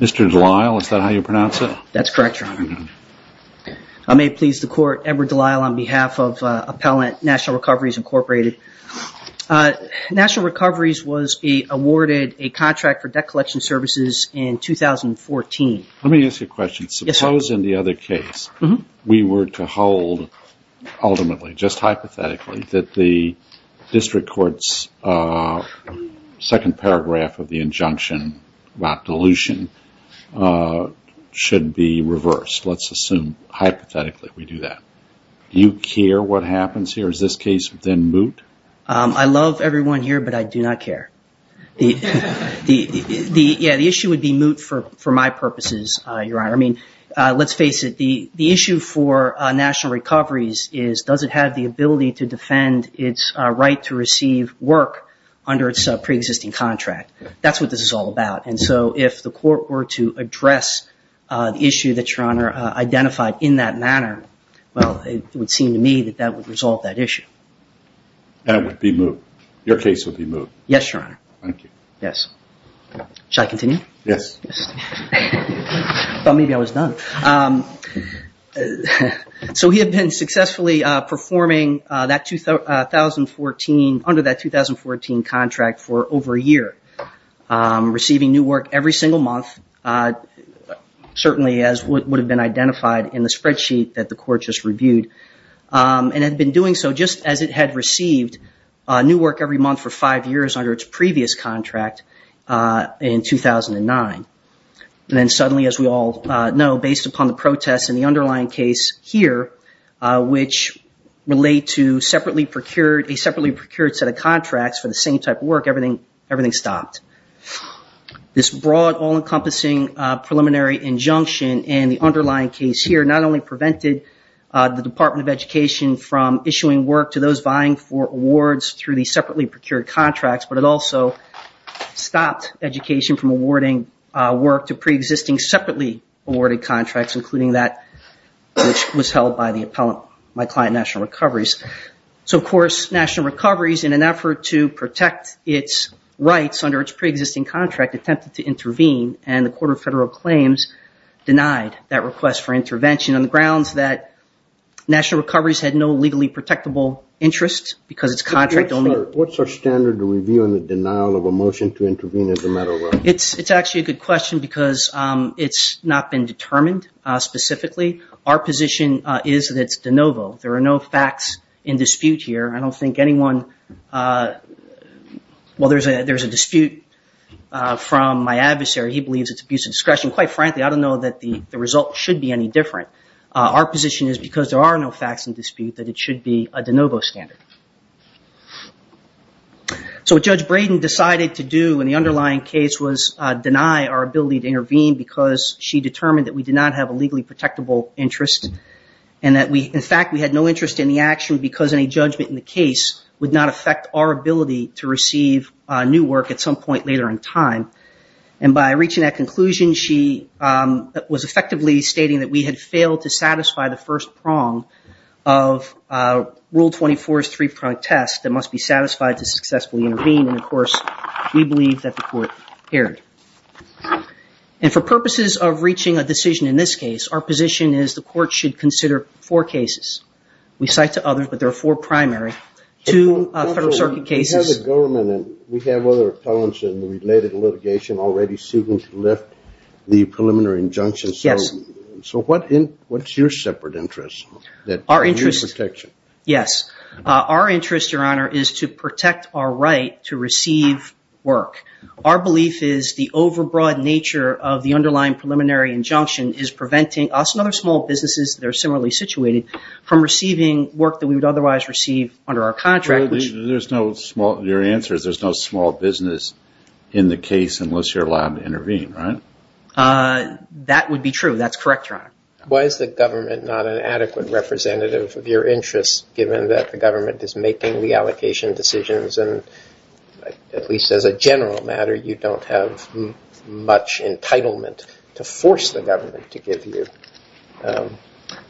Mr. Delisle, is that how you pronounce it? That's correct, Your Honor. I may please the Court, Edward Delisle, on behalf of Appellant National Recoveries Incorporated. National Recoveries was awarded a contract for debt collection services in 2014. Let me ask you a question. Suppose in the other case we were to hold ultimately, just hypothetically, that the district court's second paragraph of the injunction about dilution should be reversed. Let's assume hypothetically we do that. Do you care what happens here? Is this case then moot? I love everyone here, but I do not care. The issue would be moot for my purposes, Your Honor. Let's face it. The issue for national recoveries is does it have the ability to pre-existing contract. That's what this is all about. If the Court were to address the issue that Your Honor identified in that manner, it would seem to me that that would resolve that issue. That would be moot. Your case would be moot. Yes, Your Honor. Thank you. Yes. Shall I continue? Yes. I thought maybe I was done. He had been successfully performing under that 2014 contract. He was under that contract for over a year, receiving new work every single month, certainly as would have been identified in the spreadsheet that the Court just reviewed, and had been doing so just as it had received new work every month for five years under its previous contract in 2009. Then suddenly, as we all know, based upon the protests in the underlying case here, which relate to a separately procured set of contracts for the same type of work, everything stopped. This broad, all-encompassing preliminary injunction in the underlying case here not only prevented the Department of Education from issuing work to those vying for awards through the separately procured contracts, but it also stopped education from awarding work to pre-existing separately awarded contracts, including that which was held by the appellant, my client, National Recoveries. Of course, National Recoveries, in an effort to protect its rights under its pre-existing contract, attempted to intervene, and the Court of Federal Claims denied that request for intervention on the grounds that National Recoveries had no legally protectable interest because its contract only... What's our standard to review on the denial of a motion to intervene as a matter of... It's actually a good question because it's not been determined specifically. Our position is that it's de novo. There are no facts in dispute here. I don't think anyone... Well, there's a dispute from my adversary. He believes it's abuse of discretion. Quite frankly, I don't know that the result should be any different. Our position is, because there are no facts in dispute, that it should be a de novo standard. So what Judge Braden decided to do in the underlying case was deny our ability to intervene because she determined that we did not have a legally protectable interest, and that we... In fact, we had no interest in the action because any judgment in the case would not affect our ability to receive new work at some point later in time. And by reaching that conclusion, she was effectively stating that we had failed to satisfy the first prong of Rule 24's three-prong test that must be satisfied to successfully intervene, and of And for purposes of reaching a decision in this case, our position is the court should consider four cases. We cite to others, but there are four primary. Two Federal Circuit cases... We have the government, and we have other appellants in the related litigation already suing to lift the preliminary injunctions. So what's your separate interest? Our interest... Your protection. Our belief is the overbroad nature of the underlying preliminary injunction is preventing us and other small businesses that are similarly situated from receiving work that we would otherwise receive under our contract, which... There's no small... Your answer is there's no small business in the case unless you're allowed to intervene, right? That would be true. That's correct, Your Honor. Why is the government not an adequate representative of your interests, given that the government is making the allocation decisions, and at least as a general matter, you don't have much entitlement to force the government to give you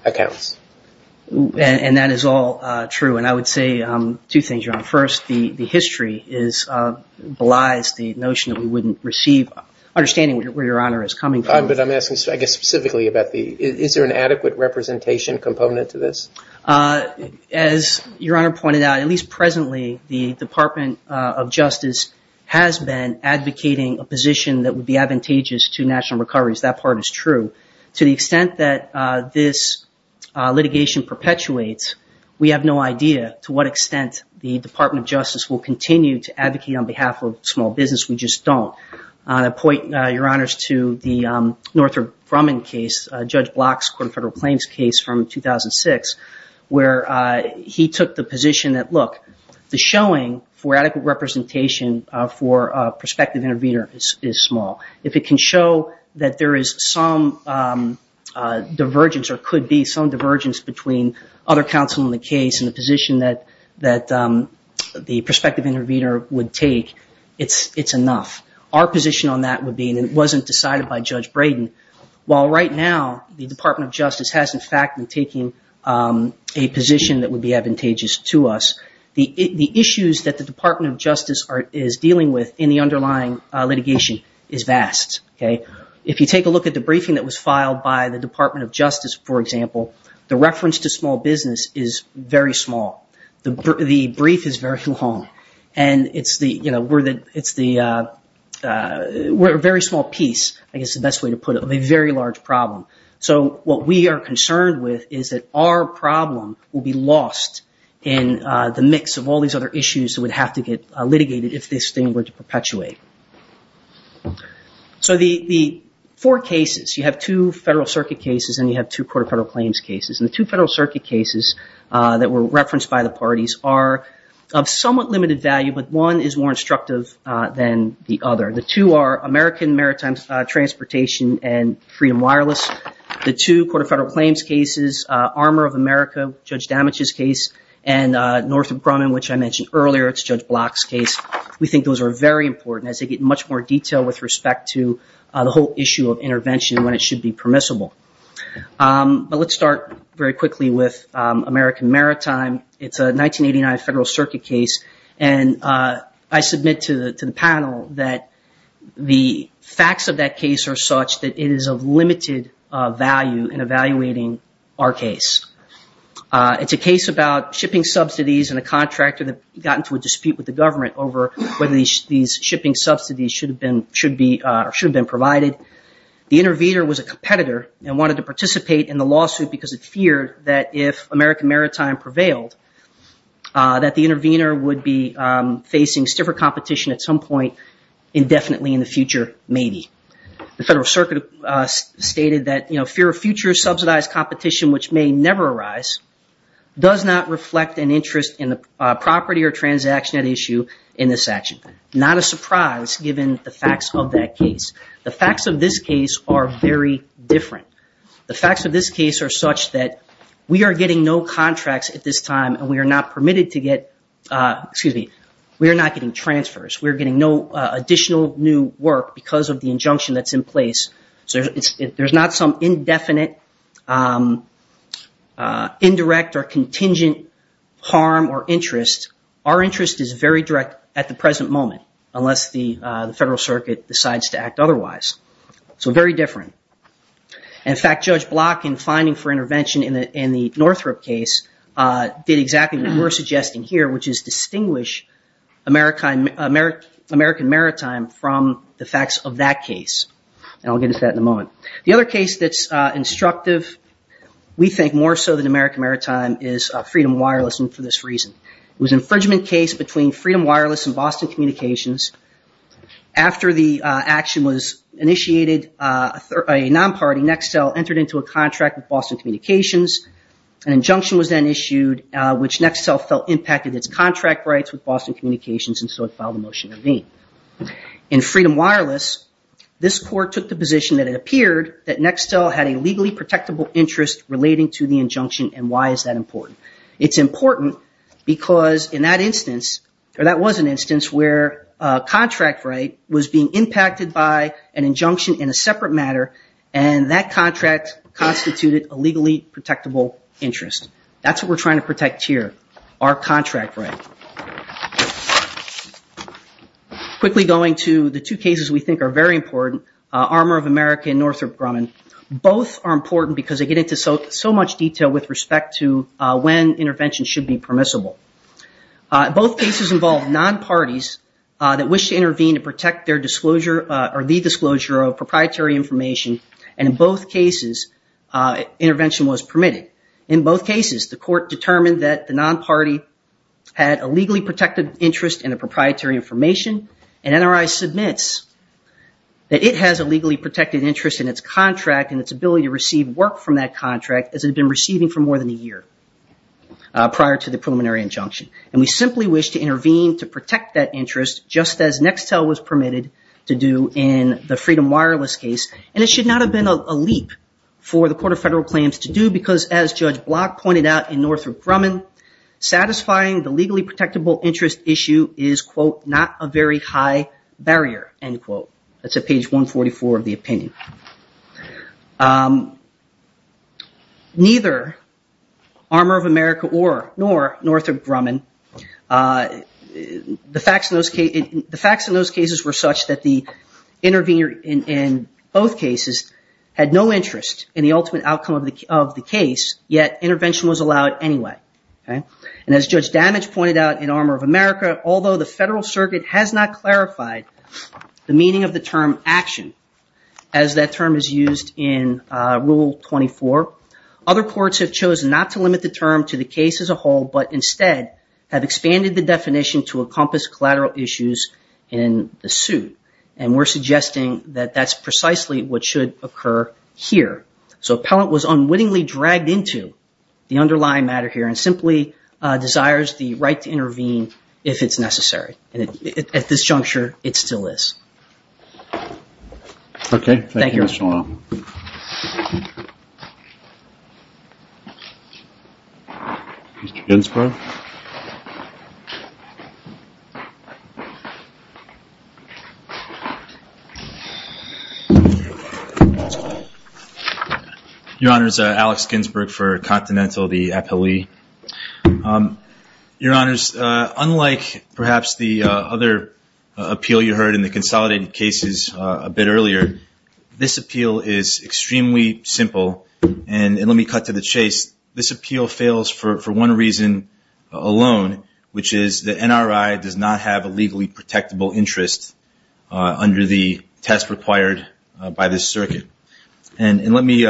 accounts? And that is all true. And I would say two things, Your Honor. First, the history belies the notion that we wouldn't receive... Understanding where Your Honor is coming from... But I'm asking, I guess, specifically about the... Is there an adequate representation component to this? As Your Honor pointed out, at least presently, the Department of Justice has been advocating a position that would be advantageous to national recoveries. That part is true. To the extent that this litigation perpetuates, we have no idea to what extent the Department of Justice will continue to advocate on behalf of small business. We just don't. And I point, Your Honors, to the Northrop Grumman case, Judge Block's Court of Federal Claims case from 2006, where he took the position that, look, the showing for adequate representation for a prospective intervener is small. If it can show that there is some divergence, or could be some divergence, between other counsel in the case and the position that the prospective intervener would take, it's enough. Our position on that would be, and it wasn't decided by Judge Brayden, while right now the Department of Justice has, in fact, been taking a position that would be advantageous to us. The issues that the Department of Justice is dealing with in the underlying litigation is vast. If you take a look at the briefing that was filed by the Department of Justice, for example, the reference to small business is very small. The brief is very long. And so what we are concerned with is that our problem will be lost in the mix of all these other issues that would have to get litigated if this thing were to perpetuate. So the four cases, you have two Federal Circuit cases and you have two Court of Federal Claims cases. And the two Federal Circuit cases that were referenced by the parties are of somewhat limited value, but one is more instructive than the other. The two are American Maritime and Transportation and Freedom Wireless. The two Court of Federal Claims cases, Armor of America, Judge Damage's case, and Northrop Grumman, which I mentioned earlier, it's Judge Block's case. We think those are very important as they get much more detail with respect to the whole issue of intervention when it should be permissible. But let's start very quickly with American Maritime. It's a 1989 Federal Circuit case and I submit to the panel that the facts of that case are such that it is of limited value in evaluating our case. It's a case about shipping subsidies and a contractor that got into a dispute with the government over whether these shipping subsidies should have been provided. The intervener was a competitor and wanted to participate in the lawsuit because it feared that if American Maritime prevailed, that the intervener would be facing stiffer competition at some point indefinitely in the future, maybe. The Federal Circuit stated that fear of future subsidized competition, which may never arise, does not reflect an interest in the property or transaction at issue in this action. Not a surprise given the facts of that case. The facts of this case are very different. The facts of this case are such that we are getting no contracts at this time and we are not permitted to get – excuse me, we are not getting transfers. We are getting no additional new work because of the injunction that's in place. So there's not some indefinite, indirect or contingent harm or interest. Our interest is very direct at the present moment unless the Federal Circuit decides to act otherwise. So very different. In fact, Judge Block, in finding for intervention in the Northrop case, did exactly what we're suggesting here, which is distinguish American Maritime from the facts of that case. And I'll get into that in a moment. The other case that's instructive, we think more so than American Maritime, is Freedom Wireless and for this reason. It was an infringement case between Freedom Wireless and Boston Communications. After the action was initiated, a non-party, Nextel, entered into a contract with Boston Communications. An injunction was then issued which Nextel felt impacted its contract rights with Boston Communications and so it filed a motion to remain. In Freedom Wireless, this court took the position that it appeared that Nextel had a legally protectable interest relating to the injunction and why is that important. It's important because in that instance, or that was an instance where a contract right was being impacted by an injunction in a separate matter and that contract constituted a legally protectable interest. That's what we're trying to protect here, our contract right. Quickly going to the two cases we think are very important, Armor of America and Northrop Grumman. Both are important because they get into so much detail with respect to when intervention should be permissible. Both cases involve non-parties that wish to intervene to protect their disclosure or the disclosure of proprietary information and in both cases, intervention was permitted. In both cases, the court determined that the non-party had a legally protected interest in the proprietary information and NRI submits that it has a legally protected interest in its contract and its ability to receive work from that contract as it had been receiving for more than a year prior to the preliminary injunction. We simply wish to intervene to protect that interest just as Nextel was permitted to do in the Freedom Wireless case and it should not have been a leap for the Court of Federal Claims to do because as Judge Block pointed out in Northrop Grumman, satisfying the legally protectable interest issue is, quote, not a very high barrier, end quote. That's at page 144 of the opinion. Neither Armour of America or Northrop Grumman, the facts in those cases were such that the intervener in both cases had no interest in the ultimate outcome of the case yet intervention was allowed anyway. And as Judge Damage pointed out in Armour of America, although the Federal Circuit has not clarified the meaning of the term action as that term is used in Rule 24, other courts have chosen not to limit the term to the case as a whole but instead have expanded the definition to encompass collateral issues in the suit. And we're suggesting that that's precisely what should occur here. So appellant was unwittingly dragged into the underlying matter here and simply desires the right to if it's necessary. And at this juncture, it still is. Okay. Thank you, Mr. Long. Mr. Ginsburg. Your Honors, Alex Ginsburg for Continental, the appellee. Your Honors, unlike perhaps the other appeal you heard in the consolidated cases a bit earlier, this appeal is extremely alone, which is the NRI does not have a legally protectable interest under the test required by this circuit. And let me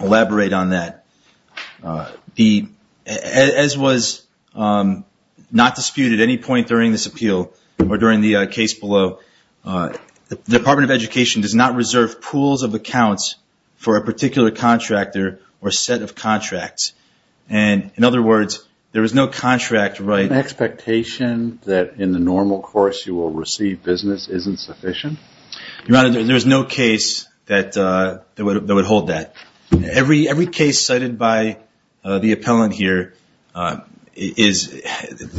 elaborate on that. As was not disputed at any point during this appeal or during the case below, the Department of Education does not reserve pools of accounts for a particular contractor or set of contracts. And in other words, there is no contract right expectation that in the normal course you will receive business isn't sufficient? Your Honor, there's no case that would hold that. Every case cited by the appellant here is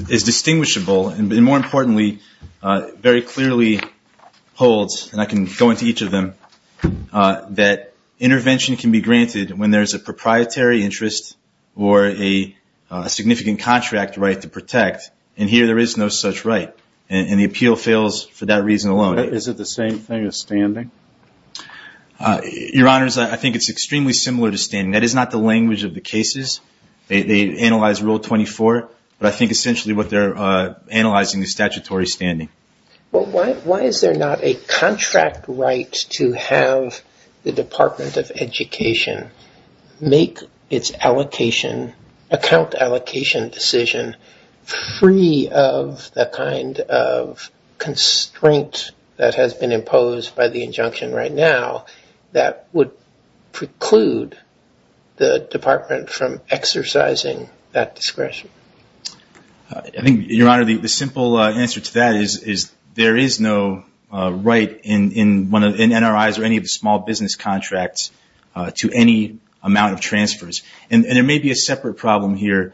distinguishable and more importantly, very clearly holds and I can go into each of them that intervention can be granted when there's a proprietary interest or a significant contract right to protect. And here there is no such right. And the appeal fails for that reason alone. Is it the same thing as standing? Your Honors, I think it's extremely similar to standing. That is not the language of the cases. They analyze rule 24, but I think essentially what they're analyzing is statutory standing. Well, why is there not a contract right to have the Department of Education make its account allocation decision free of the kind of constraint that has been imposed by the injunction right now that would preclude the Department from exercising that right? The simple answer to that is there is no right in NRIs or any of the small business contracts to any amount of transfers. And there may be a separate problem here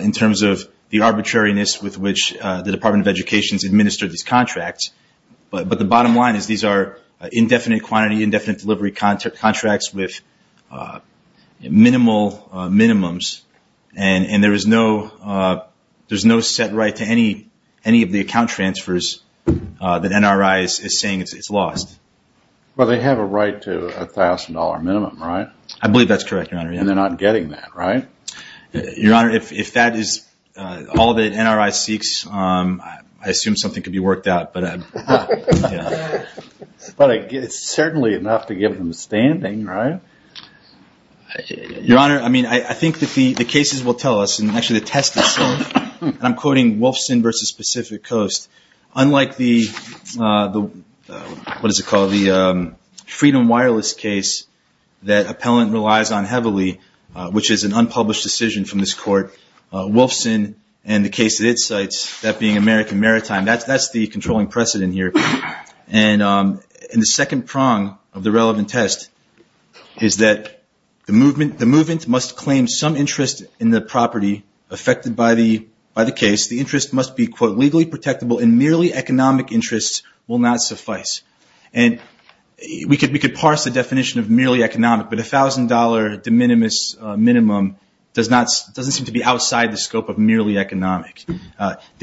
in terms of the arbitrariness with which the Department of Education has administered these contracts, but the bottom line is these are indefinite quantity, indefinite delivery contracts with minimal minimums, and there is no set right to any of the account transfers that NRI is saying it's lost. Well, they have a right to a $1,000 minimum, right? I believe that's correct, Your Honor. And they're not getting that, right? Your Honor, if that is all that NRI seeks, I assume something could be worked out. But it's certainly enough to give them standing, right? Your Honor, I mean, I think that the cases will tell us, and actually the test itself, and I'm quoting Wolfson v. Pacific Coast. Unlike the, what is it called, the Freedom Wireless case that appellant relies on heavily, which is an unpublished decision from this court, Wolfson and the case that it cites, that being American Maritime, that's the controlling precedent here. And the second prong of the relevant test is that the movement must claim some interest in the property affected by the case. The interest must be, quote, legally protectable and merely economic interests will not suffice. And we could parse the scope of merely economic. The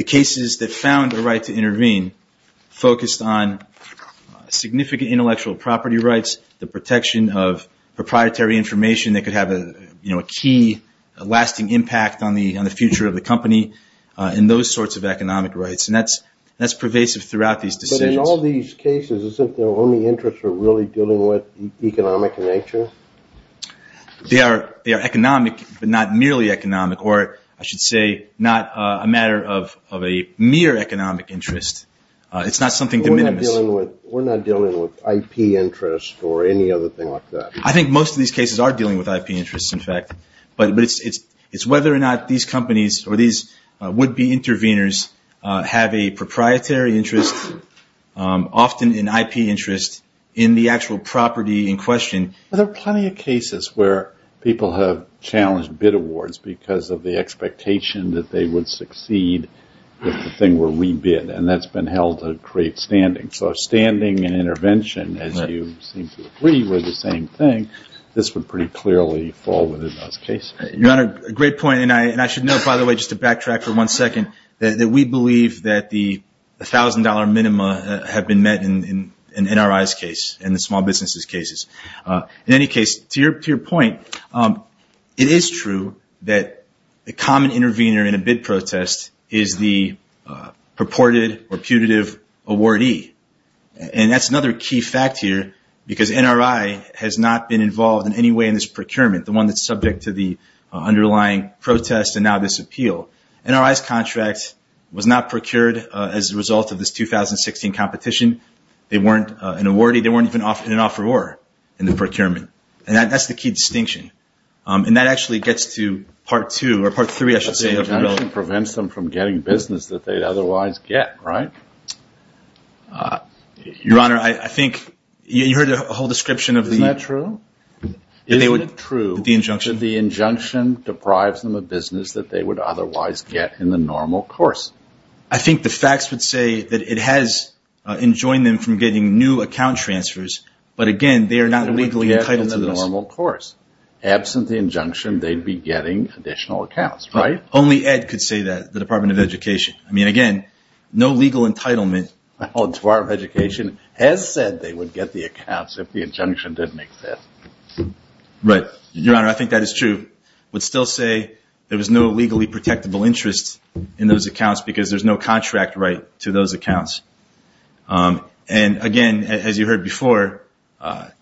cases that found the right to intervene focused on significant intellectual property rights, the protection of proprietary information that could have a key lasting impact on the future of the company, and those sorts of economic rights. And that's pervasive throughout these decisions. But in all these cases, isn't their only interest really dealing with economic nature? They are economic, but not merely economic, or I should say not a matter of a mere economic interest. It's not something de minimis. We're not dealing with IP interest or any other thing like that. I think most of these cases are dealing with IP interests, in fact. But it's whether or not these companies or these would-be interveners have a proprietary interest, often in IP interest, in the actual property in question. There are plenty of cases where people have challenged bid awards because of the expectation that they would succeed with the thing where we bid, and that's been held to create standing. So if standing and intervention, as you seem to agree, were the same thing, this would pretty clearly fall within those cases. You're on a great point. And I should note, by the way, just to backtrack for one second, that we believe that the $1,000 minima have been met in NRI's case and the small businesses' cases. In any case, to your point, it is true that the common intervener in a bid protest is the purported or putative awardee. And that's another key fact here, because NRI has not been involved in any way in this procurement, the one that's subject to the underlying protest and now this appeal. NRI's contract was not procured as a result of this 2016 competition. They weren't an awardee. They weren't even in an offeror in the procurement. And that's the key distinction. And that actually gets to part two, or part three, I should say. It actually prevents them from getting business that they'd otherwise get, right? Your Honor, I think you heard a whole description of the- The injunction deprives them of business that they would otherwise get in the normal course. I think the facts would say that it has enjoined them from getting new account transfers, but again, they are not legally entitled to this. In the normal course. Absent the injunction, they'd be getting additional accounts, right? Only Ed could say that, the Department of Education. I mean, again, no legal entitlement. Department of Education has said they would get the accounts if the injunction didn't exist. Right. Your Honor, I think that is true. I would still say there was no legally protectable interest in those accounts because there's no contract right to those accounts. And again, as you heard before,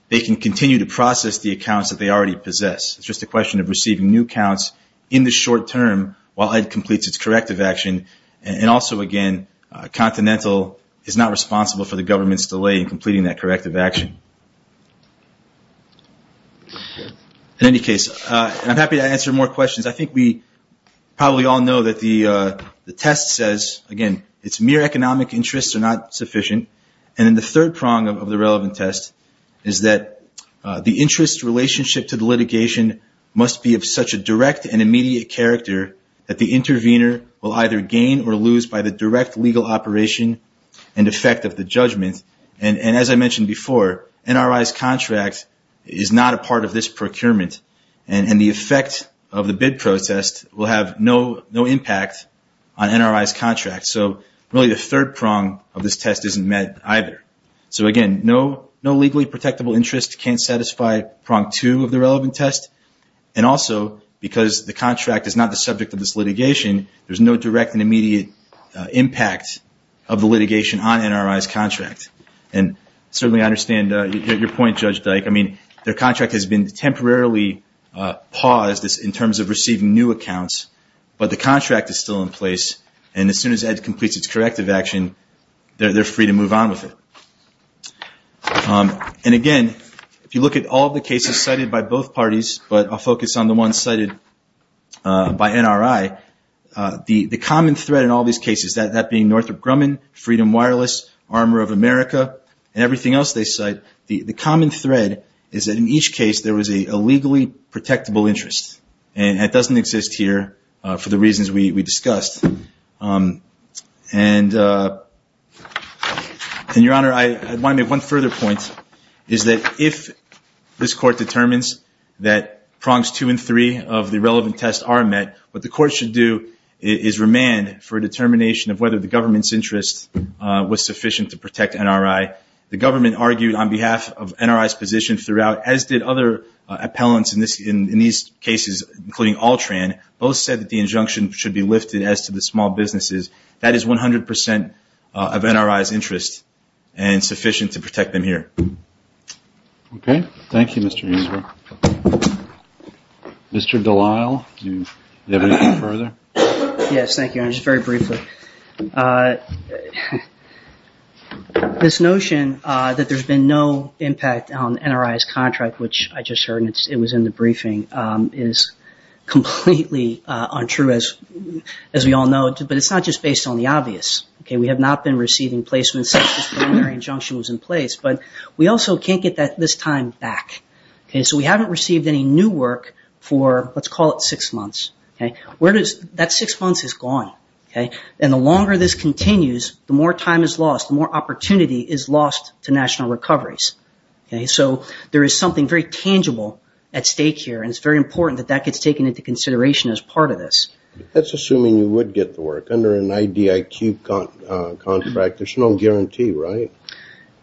they can continue to process the accounts that they already possess. It's just a question of receiving new accounts in the short term while Ed completes its corrective action. And also again, Continental is not responsible for the government's delay in this. In any case, I'm happy to answer more questions. I think we probably all know that the test says, again, it's mere economic interests are not sufficient. And then the third prong of the relevant test is that the interest relationship to the litigation must be of such a direct and immediate character that the intervener will either gain or lose by the direct legal operation and effect of the judgment. And as I mentioned before, NRI's is not a part of this procurement and the effect of the bid protest will have no impact on NRI's contract. So really, the third prong of this test isn't met either. So again, no legally protectable interest can satisfy prong two of the relevant test. And also, because the contract is not the subject of this litigation, there's no direct and immediate impact of the litigation on NRI's contract. And certainly I understand your point, Judge Dyke. I mean, their contract has been temporarily paused in terms of receiving new accounts, but the contract is still in place. And as soon as Ed completes its corrective action, they're free to move on with it. And again, if you look at all the cases cited by both parties, but I'll focus on the ones cited by NRI, the common thread in all these cases, that being Northrop Grumman, Freedom Wireless, Armor of America, and everything else they cite, the common thread is that in each case there was a legally protectable interest. And that doesn't exist here for the reasons we discussed. And Your Honor, I want to make one further point, is that if this court determines that prongs two and three of the relevant tests are met, what the court should do is remand for a determination of whether the government's interest was sufficient to protect NRI. The government argued on behalf of NRI's position throughout, as did other appellants in these cases, including Altran, both said that the injunction should be lifted as to the small businesses. That is 100% of NRI's interest and sufficient to protect them here. Okay. Thank you, Mr. Ingram. Mr. Delisle, do you have anything further? Yes. Thank you, Your Honor. Just very briefly. This notion that there's been no impact on NRI's contract, which I just heard it was in the briefing, is completely untrue, as we all know. But it's not just based on the obvious. We have not been receiving placements since this preliminary injunction was in place. But we also can't get this time back. So we haven't received any new work for, let's call it six months. That six months is gone. And the longer this continues, the more time is lost, the more opportunity is lost to national recoveries. So there is something very tangible at stake here, and it's very important that that gets taken into consideration as part of this. That's assuming you would get the work. Under an IDIQ contract, there's no guarantee, right?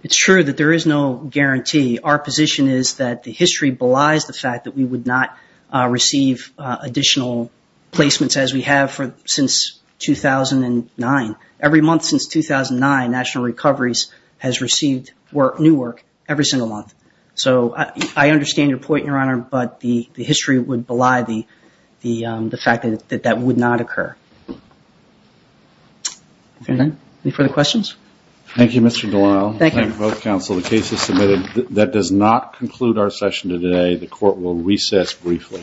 It's true that there is no guarantee. Our position is that the history belies the fact that we would not receive additional placements as we have since 2009. Every month since 2009, National Recoveries has received new work every single month. So I understand your point, Your Honor, but the history would belie the fact that that would not occur. Okay. Any further questions? Thank you, Mr. Delisle. Thank you, both counsel. The case is submitted. That does not conclude our session today. The court will recess briefly.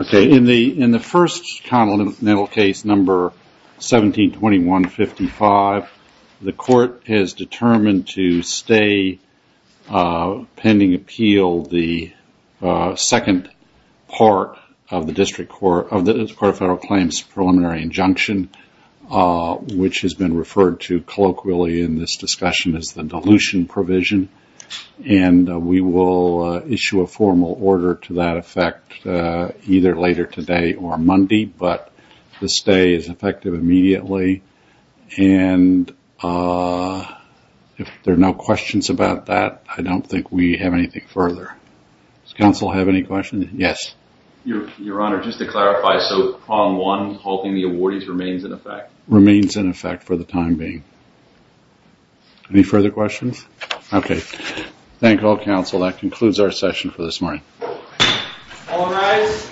Okay. In the first continental case, number 172155, the court has determined to stay pending appeal, the second part of the District Court of Federal Claims preliminary injunction, which has been referred to colloquially in this discussion as the dilution provision. And we will issue a formal order to that effect either later today or Monday, but the stay is effective immediately. And if there are no questions about that, I don't think we have anything further. Does counsel have any questions? Yes. Your Honor, just to clarify, so prong one, halting the awardees remains in effect? Remains in effect for the time being. Any further questions? Okay. Thank all That concludes our session for this morning. All rise.